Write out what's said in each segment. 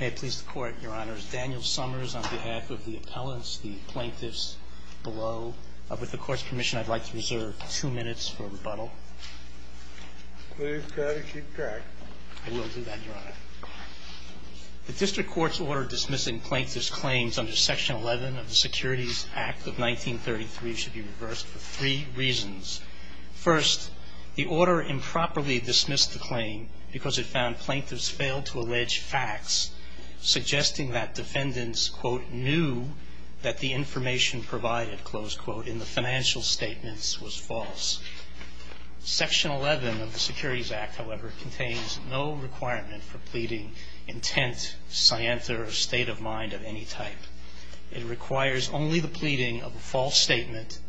May it please the Court, Your Honors, Daniel Summers on behalf of the appellants, the plaintiffs below. With the Court's permission, I'd like to reserve two minutes for rebuttal. Please try to keep track. I will do that, Your Honor. The District Court's order dismissing plaintiffs' claims under Section 11 of the Securities Act of 1933 should be reversed for three reasons. First, the order improperly dismissed the claim because it found plaintiffs failed to allege facts suggesting that defendants quote, knew that the information provided, close quote, in the financial statements was false. Section 11 of the Securities Act, however, contains no requirement for pleading intent, scienter, or state of mind of any type. It requires only the pleading of a false statement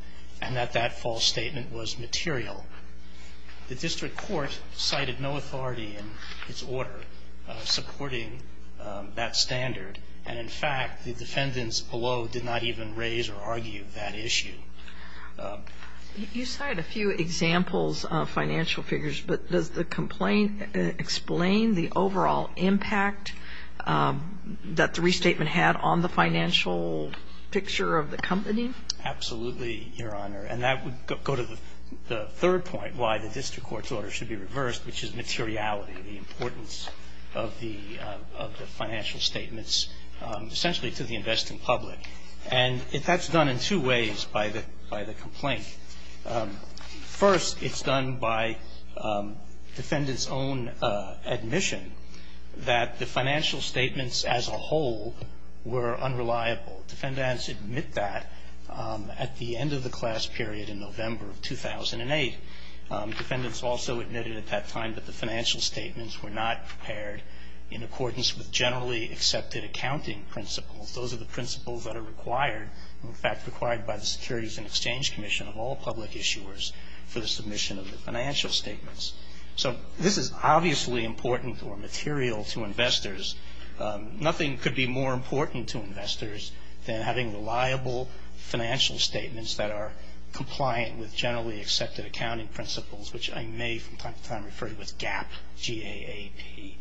and that that false statement was material. The District Court cited no authority in its order supporting that standard. And, in fact, the defendants below did not even raise or argue that issue. You cited a few examples of financial figures, but does the complaint explain the overall impact that the restatement had on the financial picture of the company? Absolutely, Your Honor. And that would go to the third point why the District Court's order should be reversed, which is materiality, the importance of the financial statements essentially to the investing public. And that's done in two ways by the complaint. First, it's done by defendants' own admission that the financial statements as a whole were unreliable. Defendants admit that at the end of the class period in November of 2008. Defendants also admitted at that time that the financial statements were not prepared in accordance with generally accepted accounting principles. Those are the principles that are required, in fact, required by the Securities and Exchange Commission of all public issuers for the submission of the financial statements. So this is obviously important or material to investors. Nothing could be more important to investors than having reliable financial statements that are compliant with generally accepted accounting principles, which I may from time to time refer to as GAAP, G-A-A-P.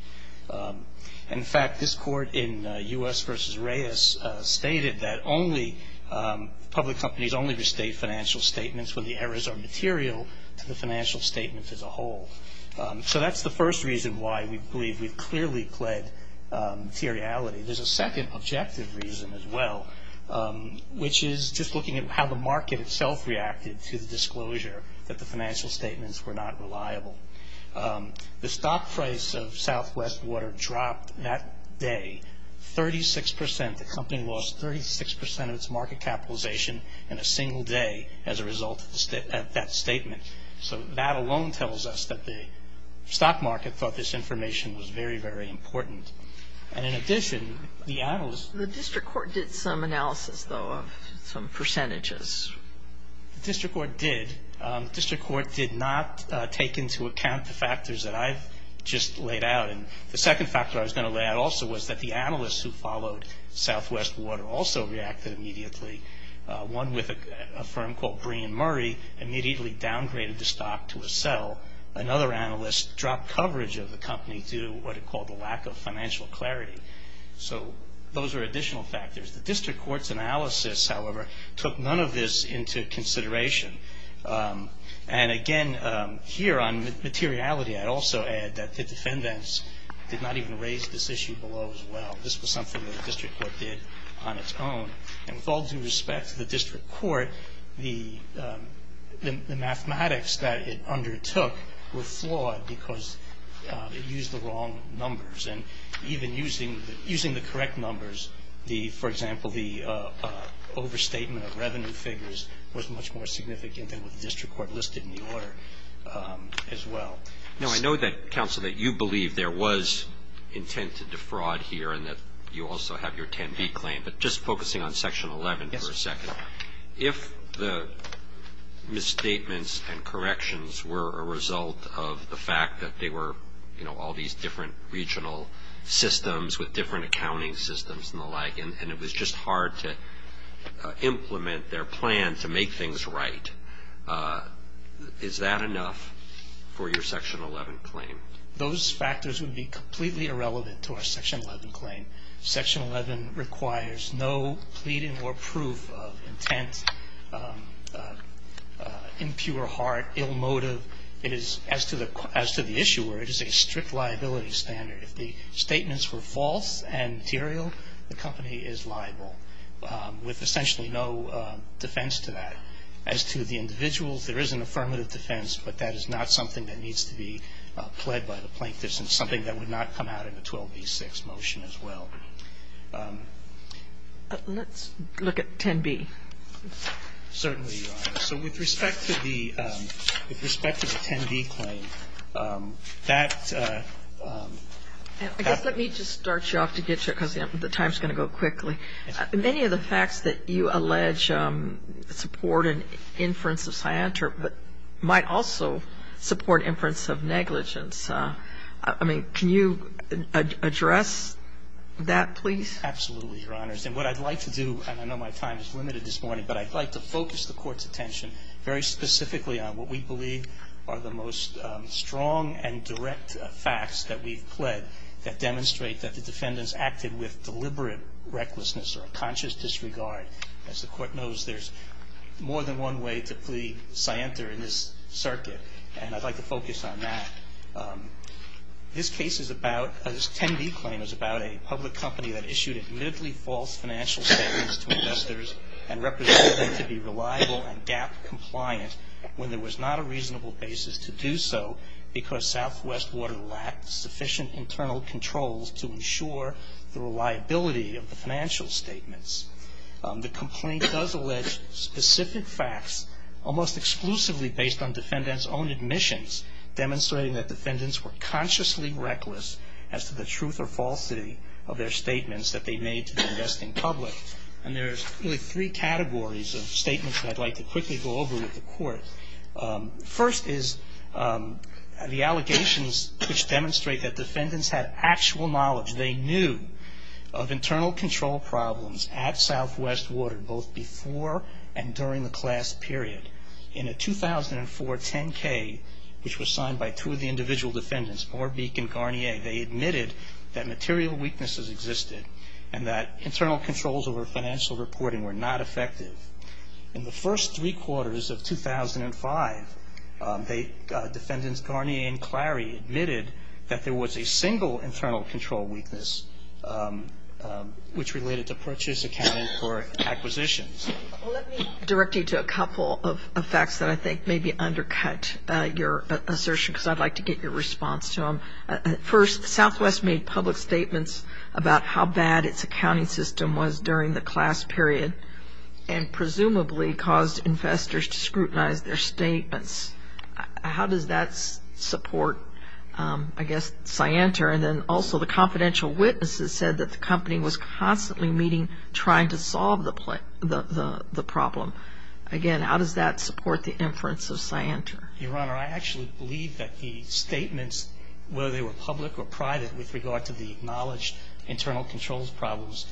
In fact, this court in U.S. v. Reyes stated that only public companies only restate financial statements when the errors are material to the financial statement as a whole. So that's the first reason why we believe we've clearly pled materiality. There's a second objective reason as well, which is just looking at how the market itself reacted to the disclosure that the financial statements were not reliable. The stock price of Southwest Water dropped that day 36 percent. The company lost 36 percent of its market capitalization in a single day as a result of that statement. So that alone tells us that the stock market thought this information was very, very important. And in addition, the analyst... The district court did some analysis, though, of some percentages. The district court did. The district court did not take into account the factors that I've just laid out. And the second factor I was going to lay out also was that the analysts who followed Southwest Water also reacted immediately. One with a firm called Bree and Murray immediately downgraded the stock to a sell. Another analyst dropped coverage of the company due to what he called the lack of financial clarity. So those are additional factors. The district court's analysis, however, took none of this into consideration. And again, here on materiality, I'd also add that the defendants did not even raise this issue below as well. This was something that the district court did on its own. And with all due respect to the district court, the mathematics that it undertook were flawed because it used the wrong numbers. And even using the correct numbers, for example, the overstatement of revenue figures was much more significant than what the district court listed in the order as well. Now, I know that, counsel, that you believe there was intent to defraud here and that you also have your 10B claim. But just focusing on Section 11 for a second. Yes. If the misstatements and corrections were a result of the fact that they were, you know, all these different regional systems with different accounting systems and the like, and it was just hard to implement their plan to make things right, is that enough for your Section 11 claim? Those factors would be completely irrelevant to our Section 11 claim. Section 11 requires no pleading or proof of intent, impure heart, ill motive. It is, as to the issuer, it is a strict liability standard. If the statements were false and material, the company is liable with essentially no defense to that. As to the individuals, there is an affirmative defense, but that is not something that needs to be pled by the plaintiffs and something that would not come out in a 12B6 motion as well. Let's look at 10B. Certainly, Your Honor. So with respect to the 10B claim, that happens. I guess let me just start you off to get you, because the time is going to go quickly. Many of the facts that you allege support an inference of scienter but might also support inference of negligence. I mean, can you address that, please? Absolutely, Your Honors. And what I'd like to do, and I know my time is limited this morning, but I'd like to focus the Court's attention very specifically on what we believe are the most strong and direct facts that we've pled that demonstrate that the defendants acted with deliberate recklessness or a conscious disregard. As the Court knows, there's more than one way to plead scienter in this circuit, and I'd like to focus on that. This 10B claim is about a public company that issued admittedly false financial statements to investors and represented them to be reliable and GAAP compliant when there was not a reasonable basis to do so because Southwest Water lacked sufficient internal controls to ensure the reliability of the financial statements. The complaint does allege specific facts almost exclusively based on defendants' own admissions, demonstrating that defendants were consciously reckless as to the truth or falsity of their statements that they made to the investing public. And there's really three categories of statements that I'd like to quickly go over with the Court. First is the allegations which demonstrate that defendants had actual knowledge, they knew, of internal control problems at Southwest Water both before and during the class period. In a 2004 10K, which was signed by two of the individual defendants, Orbeek and Garnier, they admitted that material weaknesses existed and that internal controls over financial reporting were not effective. In the first three quarters of 2005, defendants Garnier and Clary admitted that there was a single internal control weakness which related to purchase accounting for acquisitions. Well, let me direct you to a couple of facts that I think maybe undercut your assertion because I'd like to get your response to them. First, Southwest made public statements about how bad its accounting system was during the class period and presumably caused investors to scrutinize their statements. How does that support, I guess, Scienter? And then also the confidential witnesses said that the company was constantly meeting, trying to solve the problem. Again, how does that support the inference of Scienter? Your Honor, I actually believe that the statements, whether they were public or private, with regard to the acknowledged internal controls problems,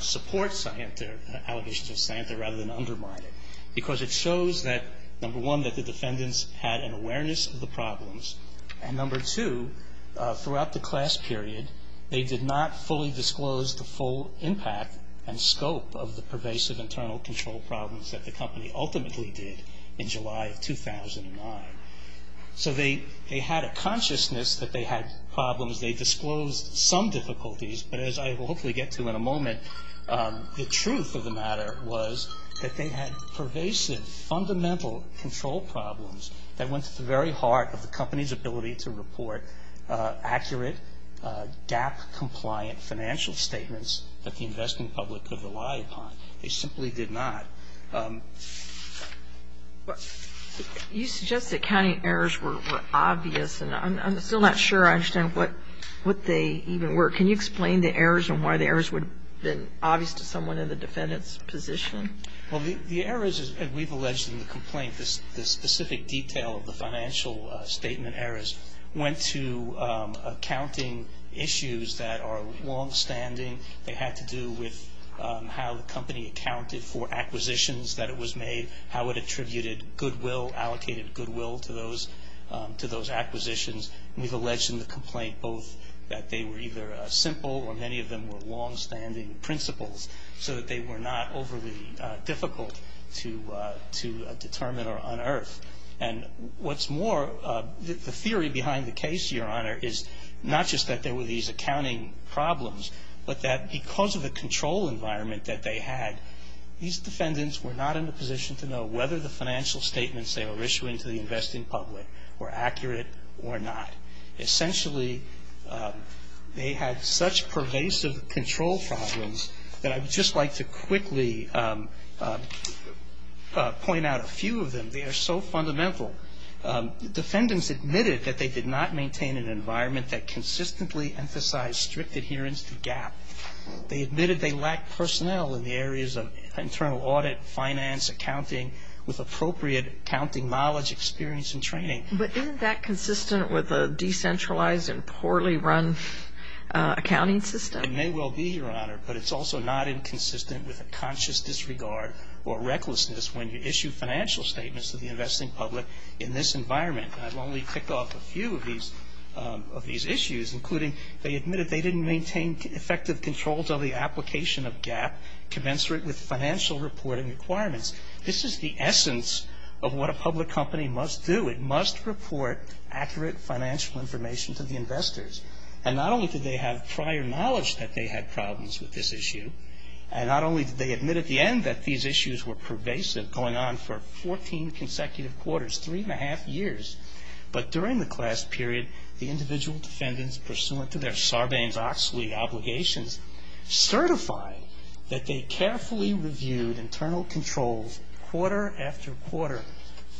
support Scienter, allegations of Scienter, rather than undermine it. Because it shows that, number one, that the defendants had an awareness of the problems, and number two, throughout the class period, they did not fully disclose the full impact and scope of the pervasive internal control problems that the company ultimately did in July of 2009. So they had a consciousness that they had problems. They disclosed some difficulties, but as I will hopefully get to in a moment, the truth of the matter was that they had pervasive, fundamental control problems that went to the very heart of the company's ability to report accurate, DAP-compliant financial statements that the investing public could rely upon. They simply did not. You suggest that accounting errors were obvious, and I'm still not sure I understand what they even were. Can you explain the errors and why the errors would have been obvious to someone in the defendant's position? Well, the errors, as we've alleged in the complaint, the specific detail of the financial statement errors went to accounting issues that are longstanding. They had to do with how the company accounted for acquisitions that it was made, how it attributed goodwill, allocated goodwill to those acquisitions. We've alleged in the complaint both that they were either simple or many of them were longstanding principles so that they were not overly difficult to determine or unearth. And what's more, the theory behind the case, Your Honor, is not just that there were these accounting problems, but that because of the control environment that they had, these defendants were not in a position to know whether the financial statements they were issuing to the investing public were accurate or not. Essentially, they had such pervasive control problems that I would just like to quickly point out a few of them. They are so fundamental. Defendants admitted that they did not maintain an environment that consistently emphasized strict adherence to GAAP. They admitted they lacked personnel in the areas of internal audit, finance, accounting, with appropriate accounting knowledge, experience, and training. But isn't that consistent with a decentralized and poorly run accounting system? It may well be, Your Honor, but it's also not inconsistent with a conscious disregard or recklessness when you issue financial statements to the investing public in this environment. And I've only picked off a few of these issues, including they admitted they didn't maintain effective control until the application of GAAP commensurate with financial reporting requirements. This is the essence of what a public company must do. It must report accurate financial information to the investors. And not only did they have prior knowledge that they had problems with this issue, and not only did they admit at the end that these issues were pervasive, going on for 14 consecutive quarters, three and a half years, but during the class period, the individual defendants, pursuant to their Sarbanes-Oxley obligations, certify that they carefully reviewed internal controls quarter after quarter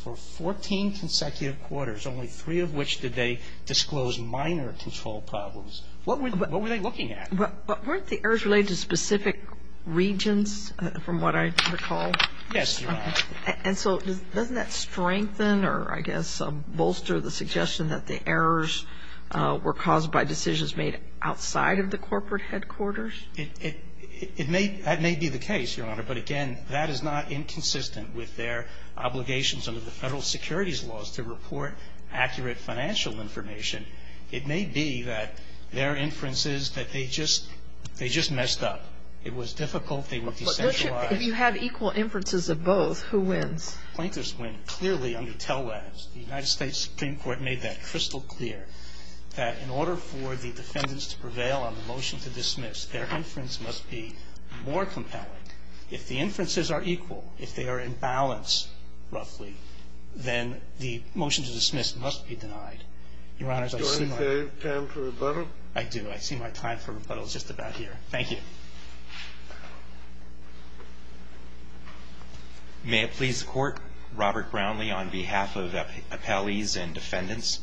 for 14 consecutive quarters, only three of which did they disclose minor control problems. What were they looking at? But weren't the errors related to specific regions from what I recall? Yes, Your Honor. And so doesn't that strengthen or I guess bolster the suggestion that the errors were caused by decisions made outside of the corporate headquarters? That may be the case, Your Honor. But, again, that is not inconsistent with their obligations under the federal securities laws to report accurate financial information. It may be that their inferences that they just messed up. It was difficult. They were decentralized. But if you have equal inferences of both, who wins? Plaintiffs win clearly under TELADS. The United States Supreme Court made that crystal clear, that in order for the defendants to prevail on the motion to dismiss, their inference must be more compelling. If the inferences are equal, if they are in balance, roughly, then the motion to dismiss must be denied. Your Honors, I see my time for rebuttal is just about here. Thank you. May it please the Court. Robert Brownlee on behalf of the appellees and defendants.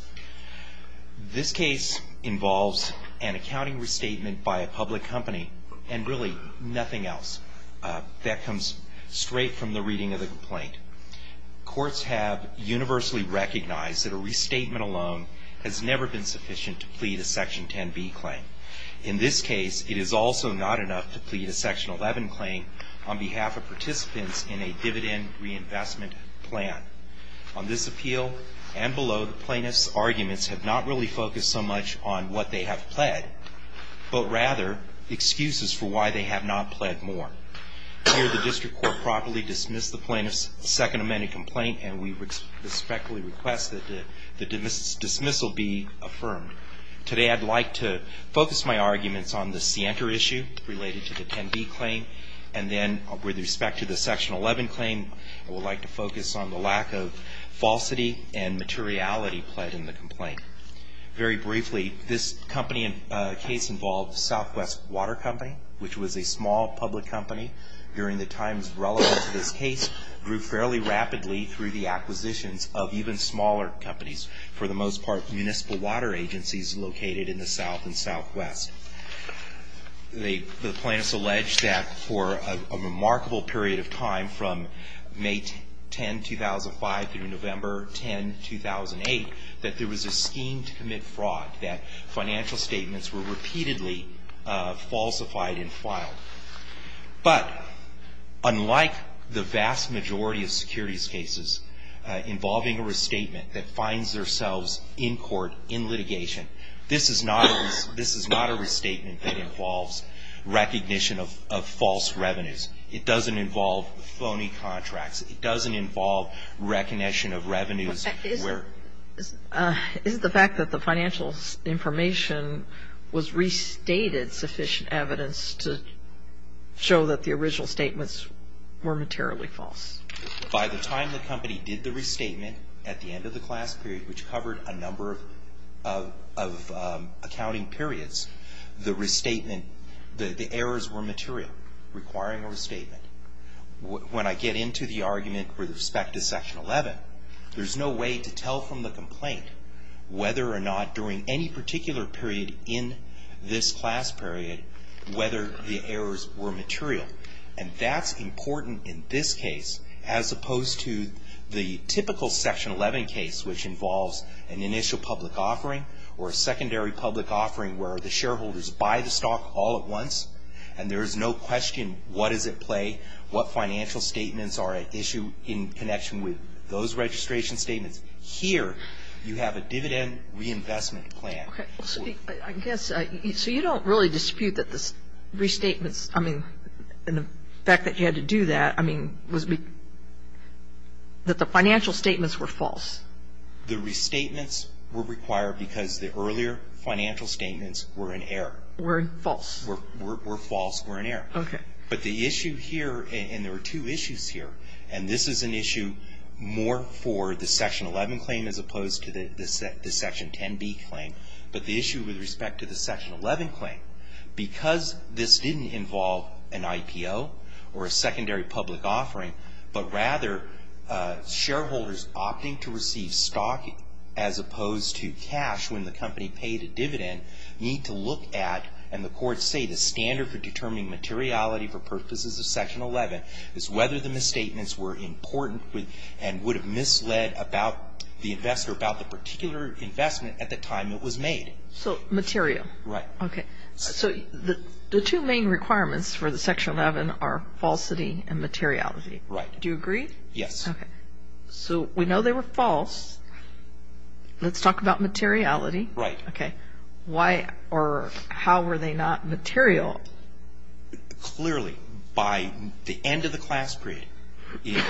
This case involves an accounting restatement by a public company and really nothing else. That comes straight from the reading of the complaint. Courts have universally recognized that a restatement alone has never been sufficient to plead a Section 10b claim. In this case, it is also not enough to plead a Section 11 claim on behalf of participants in a dividend reinvestment plan. On this appeal and below, the plaintiffs' arguments have not really focused so much on what they have pled, but rather excuses for why they have not pled more. Here, the District Court properly dismissed the plaintiff's Second Amendment complaint and we respectfully request that the dismissal be affirmed. Today, I'd like to focus my arguments on the scienter issue related to the 10b claim and then with respect to the Section 11 claim, I would like to focus on the lack of falsity and materiality pled in the complaint. Very briefly, this case involved Southwest Water Company, which was a small public company during the times relevant to this case, grew fairly rapidly through the acquisitions of even smaller companies, for the most part municipal water agencies located in the south and southwest. The plaintiffs allege that for a remarkable period of time from May 10, 2005, through November 10, 2008, that there was a scheme to commit fraud, that financial statements were repeatedly falsified and filed. But unlike the vast majority of securities cases involving a restatement that finds themselves in court, in litigation, this is not a restatement that involves recognition of false revenues. It doesn't involve phony contracts. It doesn't involve recognition of revenues. Isn't the fact that the financial information was restated sufficient evidence to show that the original statements were materially false? By the time the company did the restatement at the end of the class period, which covered a number of accounting periods, the errors were material, requiring a restatement. When I get into the argument with respect to Section 11, there's no way to tell from the complaint whether or not during any particular period in this class period whether the errors were material. And that's important in this case, as opposed to the typical Section 11 case, which involves an initial public offering or a secondary public offering where the shareholders buy the stock all at once, and there is no question what is at play, what financial statements are at issue in connection with those registration statements. Here, you have a dividend reinvestment plan. Okay. I guess, so you don't really dispute that the restatements, I mean, and the fact that you had to do that, I mean, that the financial statements were false? The restatements were required because the earlier financial statements were in error. Were false. Were false or in error. Okay. But the issue here, and there were two issues here, and this is an issue more for the Section 11 claim as opposed to the Section 10b claim, but the issue with respect to the Section 11 claim, because this didn't involve an IPO or a secondary public offering, but rather shareholders opting to receive stock as opposed to cash when the company paid a dividend need to look at, and the courts say, the standard for determining materiality for purposes of Section 11 is whether the misstatements were important and would have misled the investor about the particular investment at the time it was made. So material. Right. Okay. So the two main requirements for the Section 11 are falsity and materiality. Right. Do you agree? Yes. Okay. So we know they were false. Let's talk about materiality. Right. Okay. Why or how were they not material? Clearly, by the end of the class period, in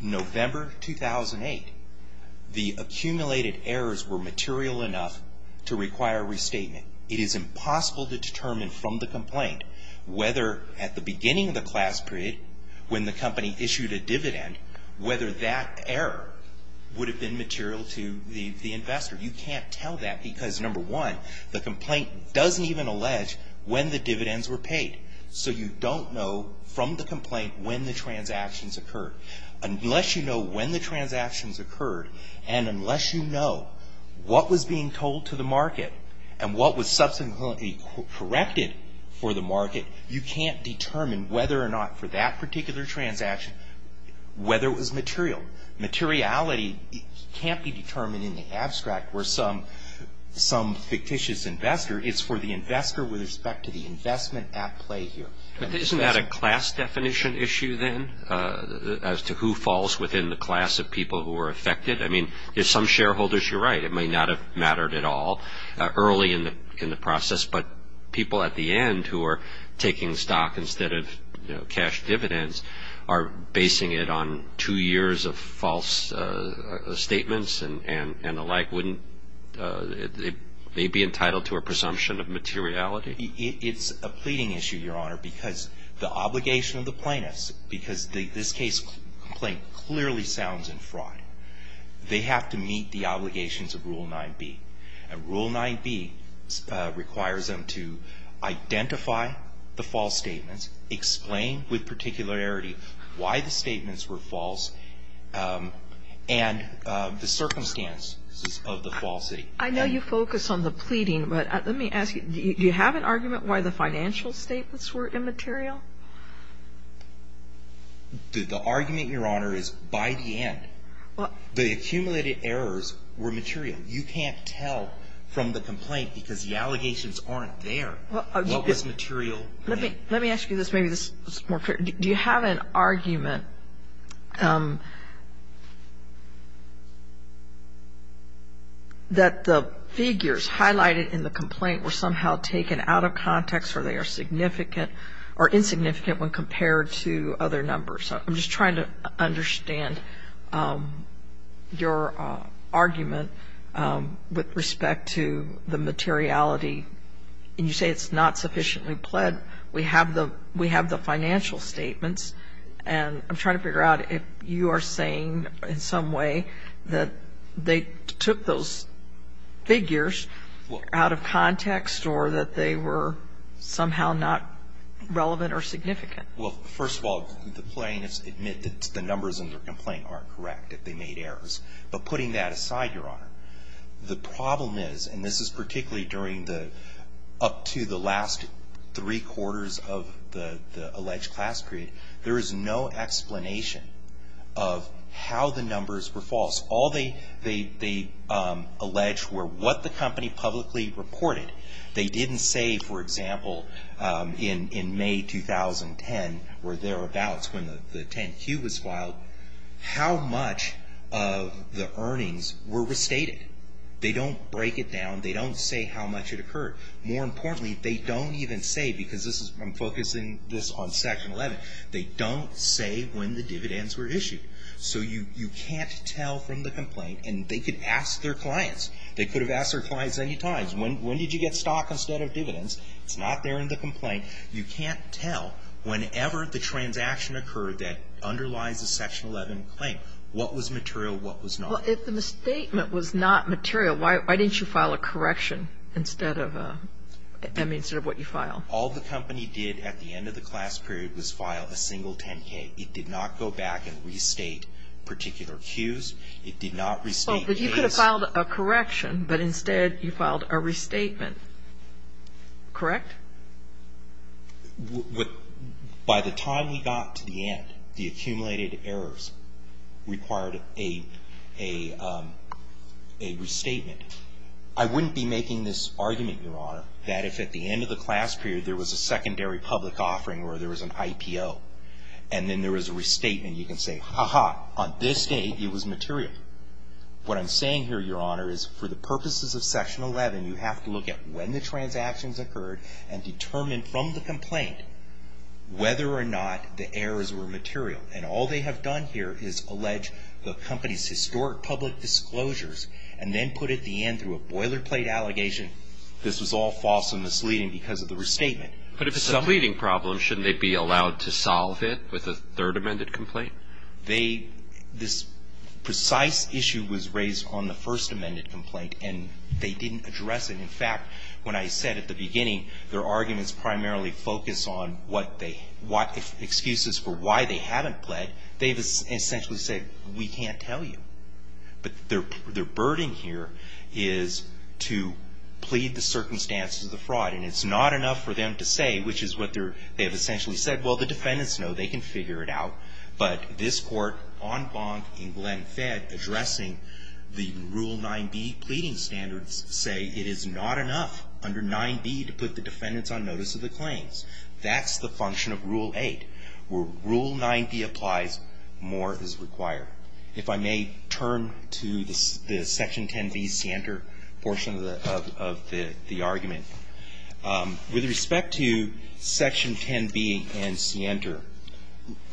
November 2008, the accumulated errors were material enough to require a restatement. It is impossible to determine from the complaint whether at the beginning of the class period, when the company issued a dividend, whether that error would have been material to the investor. You can't tell that because, number one, the complaint doesn't even allege when the dividends were paid. So you don't know from the complaint when the transactions occurred. Unless you know when the transactions occurred, and unless you know what was being told to the market and what was subsequently corrected for the market, you can't determine whether or not for that particular transaction, whether it was material. Materiality can't be determined in the abstract where some fictitious investor. It's for the investor with respect to the investment at play here. Isn't that a class definition issue then as to who falls within the class of people who are affected? I mean, if some shareholders, you're right, it may not have mattered at all early in the process, but people at the end who are taking stock instead of cash dividends are basing it on two years of false statements and the like, wouldn't they be entitled to a presumption of materiality? It's a pleading issue, Your Honor, because the obligation of the plaintiffs, because this case complaint clearly sounds in fraud, they have to meet the obligations of Rule 9b. And Rule 9b requires them to identify the false statements, explain with particularity why the statements were false, and the circumstances of the falsity. I know you focus on the pleading, but let me ask you, do you have an argument why the financial statements were immaterial? The argument, Your Honor, is by the end. The accumulated errors were material. You can't tell from the complaint because the allegations aren't there. What was material? Let me ask you this. Maybe this is more clear. Do you have an argument that the figures highlighted in the complaint were somehow taken out of context or they are significant or insignificant when compared to other numbers? I'm just trying to understand your argument with respect to the materiality. You say it's not sufficiently pled. We have the financial statements, and I'm trying to figure out if you are saying in some way that they took those figures out of context or that they were somehow not relevant or significant. Well, first of all, the plaintiffs admit that the numbers in their complaint aren't correct, that they made errors. But putting that aside, Your Honor, the problem is, and this is particularly during the up to the last three quarters of the alleged class period, there is no explanation of how the numbers were false. All they allege were what the company publicly reported. They didn't say, for example, in May 2010 or thereabouts when the 10-Q was filed, how much of the earnings were restated. They don't break it down. They don't say how much it occurred. More importantly, they don't even say, because I'm focusing this on Section 11, they don't say when the dividends were issued. So you can't tell from the complaint, and they could ask their clients. They could have asked their clients many times, when did you get stock instead of dividends? It's not there in the complaint. You can't tell whenever the transaction occurred that underlies the Section 11 claim, what was material, what was not. Well, if the statement was not material, why didn't you file a correction instead of a, I mean, instead of what you file? All the company did at the end of the class period was file a single 10-K. It did not go back and restate particular Qs. It did not restate Ks. But you could have filed a correction, but instead you filed a restatement. Correct? By the time we got to the end, the accumulated errors required a restatement. I wouldn't be making this argument, Your Honor, that if at the end of the class period there was a secondary public offering or there was an IPO and then there was a restatement, you can say, ha-ha, on this date it was material. What I'm saying here, Your Honor, is for the purposes of Section 11, you have to look at when the transactions occurred and determine from the complaint whether or not the errors were material. And all they have done here is allege the company's historic public disclosures and then put at the end through a boilerplate allegation, this was all false and misleading because of the restatement. But if it's a pleading problem, shouldn't they be allowed to solve it with a third amended complaint? This precise issue was raised on the first amended complaint and they didn't address it. In fact, when I said at the beginning, their arguments primarily focus on excuses for why they haven't pled, they've essentially said, we can't tell you. But their burden here is to plead the circumstances of the fraud. And it's not enough for them to say, which is what they've essentially said, well, the defendants know, they can figure it out. But this court, en banc in Glen Fed, addressing the Rule 9b pleading standards say, it is not enough under 9b to put the defendants on notice of the claims. That's the function of Rule 8. Where Rule 9b applies, more is required. If I may turn to the Section 10b scienter portion of the argument. With respect to Section 10b and scienter,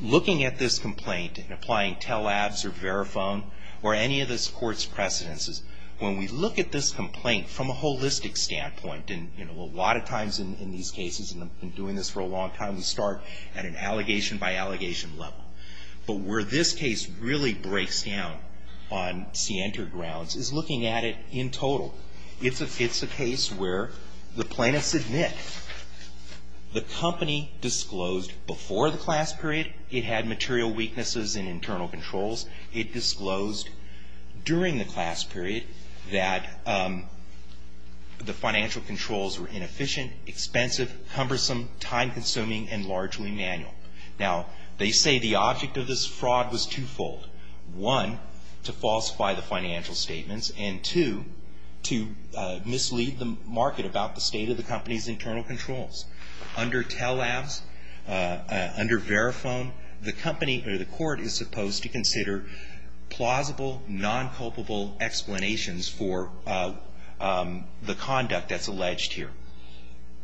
looking at this complaint and applying tell-abs or verifone or any of this court's precedences, when we look at this complaint from a holistic standpoint, and a lot of times in these cases, and I've been doing this for a long time, we start at an allegation by allegation level. But where this case really breaks down on scienter grounds is looking at it in total. It's a case where the plaintiffs admit the company disclosed before the class period it had material weaknesses in internal controls. It disclosed during the class period that the financial controls were inefficient, expensive, cumbersome, time-consuming, and largely manual. Now, they say the object of this fraud was twofold. One, to falsify the financial statements, and two, to mislead the market about the state of the company's internal controls. Under tell-abs, under verifone, the company or the court is supposed to consider plausible, non-culpable explanations for the conduct that's alleged here.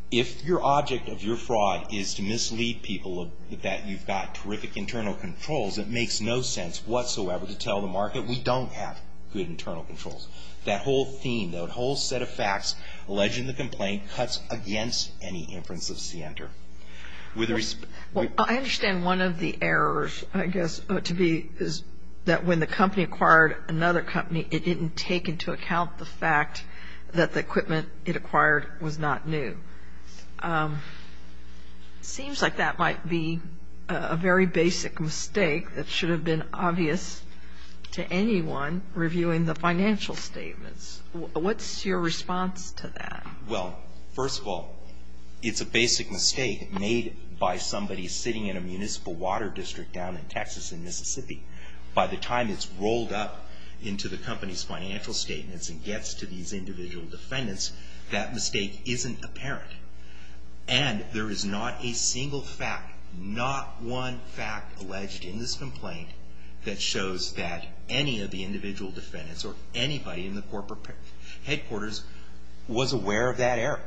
If your object of your fraud is to mislead people that you've got terrific internal controls, it makes no sense whatsoever to tell the market that we don't have good internal controls. That whole theme, that whole set of facts alleging the complaint cuts against any inference of scienter. With respect... Well, I understand one of the errors, I guess, is that when the company acquired another company, it didn't take into account the fact that the equipment it acquired was not new. It seems like that might be a very basic mistake that should have been obvious to anyone reviewing the financial statements. What's your response to that? Well, first of all, it's a basic mistake made by somebody sitting in a municipal water district down in Texas, in Mississippi. By the time it's rolled up into the company's financial statements and gets to these individual defendants, that mistake isn't apparent. And there is not a single fact, not one fact alleged in this complaint that shows that any of the individual defendants or anybody in the corporate headquarters was aware of that error.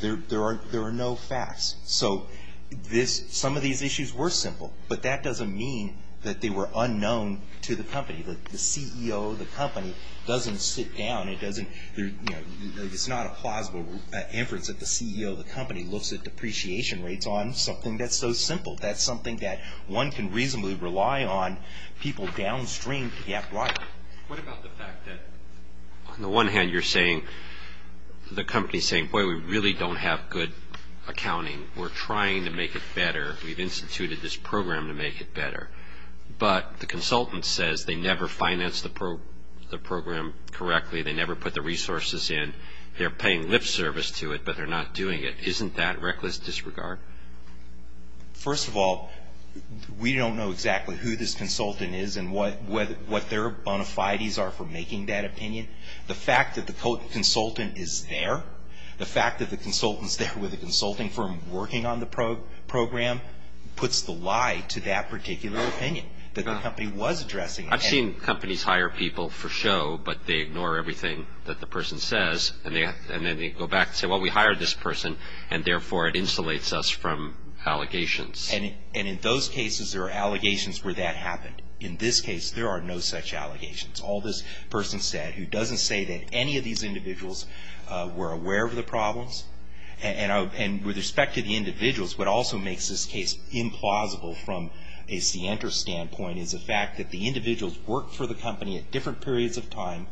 There are no facts. So some of these issues were simple, but that doesn't mean that they were unknown to the company. The CEO of the company doesn't sit down. It's not a plausible inference that the CEO of the company looks at depreciation rates on something that's so simple. That's something that one can reasonably rely on people downstream to get right. What about the fact that, on the one hand, you're saying, the company's saying, boy, we really don't have good accounting. We're trying to make it better. We've instituted this program to make it better. But the consultant says they never financed the program correctly. They never put the resources in. They're paying lip service to it, but they're not doing it. Isn't that reckless disregard? First of all, we don't know exactly who this consultant is and what their bona fides are for making that opinion. The fact that the consultant is there, the fact that the consultant's there with a consulting firm working on the program puts the lie to that particular opinion that the company was addressing. I've seen companies hire people for show, but they ignore everything that the person says, and then they go back and say, well, we hired this person, and therefore it insulates us from allegations. And in those cases, there are allegations where that happened. In this case, there are no such allegations. All this person said, who doesn't say that any of these individuals were aware of the problems, and with respect to the individuals, what also makes this case implausible from a scienter's standpoint is the fact that the individuals worked for the company at different periods of time,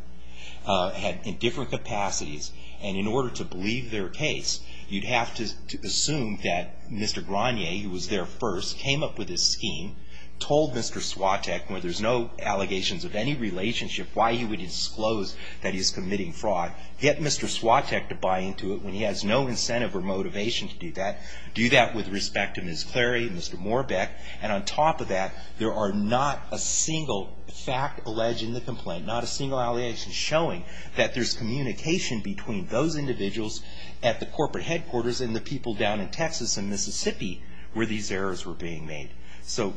in different capacities, and in order to believe their case, you'd have to assume that Mr. Granier, who was there first, came up with this scheme, told Mr. Swatek, where there's no allegations of any relationship, why he would disclose that he's committing fraud, get Mr. Swatek to buy into it when he has no incentive or motivation to do that, do that with respect to Ms. Clary and Mr. Morbek, and on top of that, there are not a single fact alleged in the complaint, not a single allegation showing that there's communication between those individuals at the corporate headquarters and the people down in Texas and Mississippi where these errors were being made. So...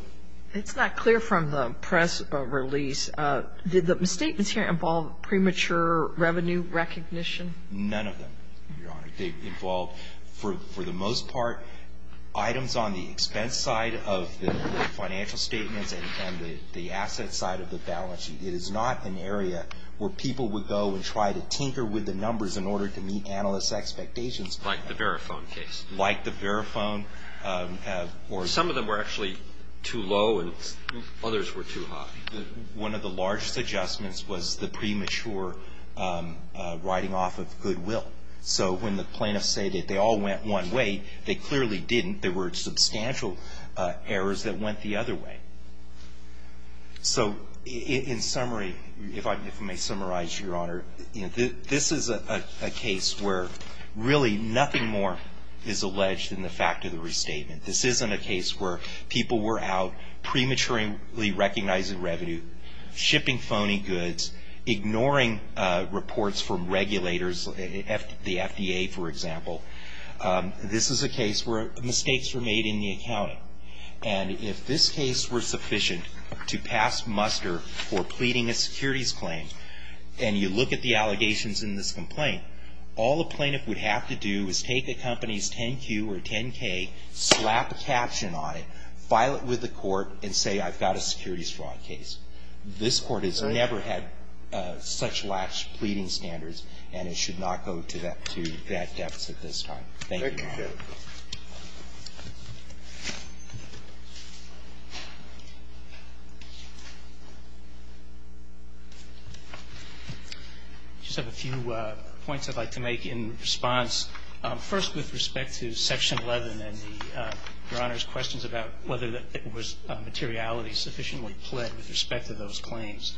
It's not clear from the press release. Did the statements here involve premature revenue recognition? None of them, Your Honor. They involved, for the most part, items on the expense side of the financial statements and the asset side of the balance sheet. It is not an area where people would go and try to tinker with the numbers in order to meet analysts' expectations. Like the Verifone case. Like the Verifone or... Some of them were actually too low and others were too high. One of the largest adjustments was the premature writing off of goodwill. So when the plaintiffs say that they all went one way, they clearly didn't. There were substantial errors that went the other way. So, in summary, if I may summarize, Your Honor, this is a case where, really, nothing more is alleged than the fact of the restatement. This isn't a case where people were out prematurely recognizing revenue, shipping phony goods, ignoring reports from regulators, the FDA, for example. This is a case where mistakes were made in the accounting. And if this case were sufficient to pass muster for pleading a securities claim, and you look at the allegations in this complaint, all a plaintiff would have to do is take a company's 10-Q or 10-K, slap a caption on it, file it with the court, and say, I've got a securities fraud case. This court has never had such latched pleading standards and it should not go to that depth at this time. Thank you. I just have a few points I'd like to make in response. First, with respect to Section 11 and Your Honor's questions about whether it was materiality sufficiently pled with respect to those claims.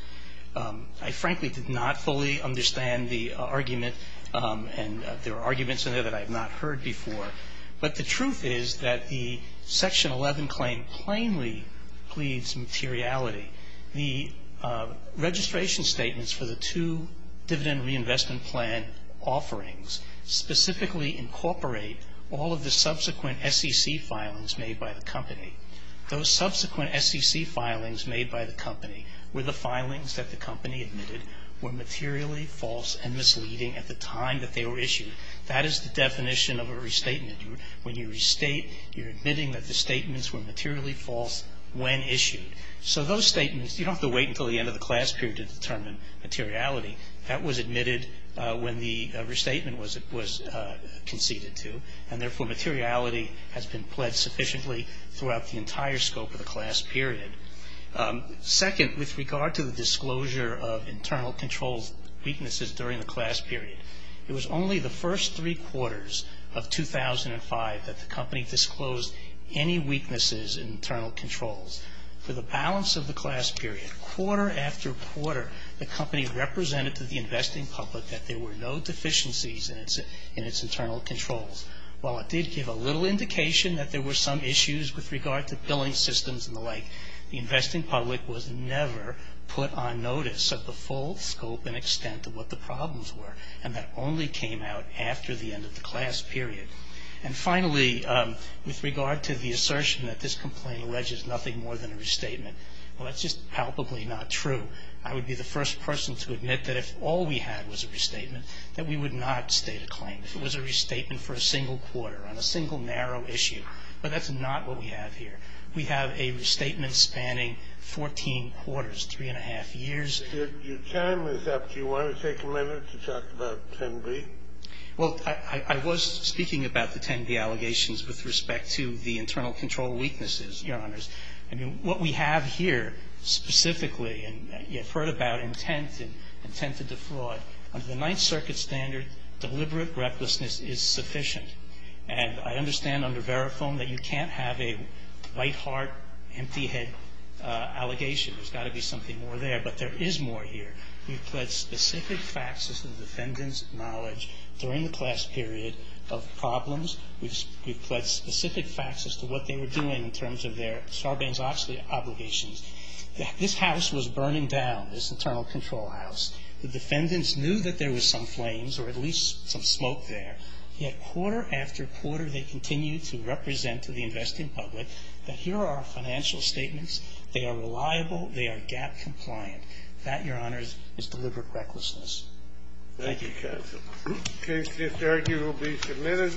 I, frankly, did not fully understand the argument and there are arguments in there that I have not heard before. But the truth is that the Section 11 and Section 11, Section 11 claim plainly pleads materiality. The registration statements for the two dividend reinvestment plan offerings specifically incorporate all of the subsequent SEC filings made by the company. Those subsequent SEC filings made by the company were the filings that the company admitted were materially false and misleading at the time that they were issued. That is the definition of a restatement. When you restate, you're admitting that the statements were materially false when issued. So those statements, you don't have to wait until the end of the class period to determine materiality. That was admitted when the restatement was conceded to and therefore materiality has been pled sufficiently throughout the entire scope of the class period. Second, with regard to the disclosure of internal control weaknesses during the class period, it was only the first three quarters of 2005 that the company disclosed any weaknesses in internal controls. For the balance of the class period, quarter after quarter, the company represented to the investing public that there were no deficiencies in its internal controls. While it did give a little indication that there were some issues with regard to billing systems and the like, the investing public was never put on notice of the full scope and extent of what the problems were. And that only came out after the end of the class period. And finally, with regard to the assertion that this complaint alleges nothing more than a restatement, well, that's just palpably not true. I would be the first person to admit that if all we had was a restatement, that we would not state a claim. If it was a restatement for a single quarter on a single narrow issue. But that's not what we have here. We have a restatement spanning 14 quarters, three and a half years. Your time is up. Do you want to take a minute to talk about 10B? Well, I was speaking about the 10B allegations with respect to the internal control weaknesses, Your Honors. I mean, what we have here specifically, and you've heard about intent and intent to defraud. Under the Ninth Circuit standard, deliberate recklessness is sufficient. And I understand under Verifone that you can't have a white heart, empty head allegation. There's got to be something more there. But there is more here. We've pled specific faxes to the defendant's knowledge during the class period of problems. We've pled specific faxes to what they were doing in terms of their Sarbanes-Oxley obligations. This house was burning down, this internal control house. The defendants knew that there was some flames or at least some smoke there. Yet quarter after quarter, they continued to represent to the investing public that here are our financial statements. They are reliable. They are GAAP-compliant. That, Your Honors, is deliberate recklessness. Thank you, counsel. Case disargued will be submitted.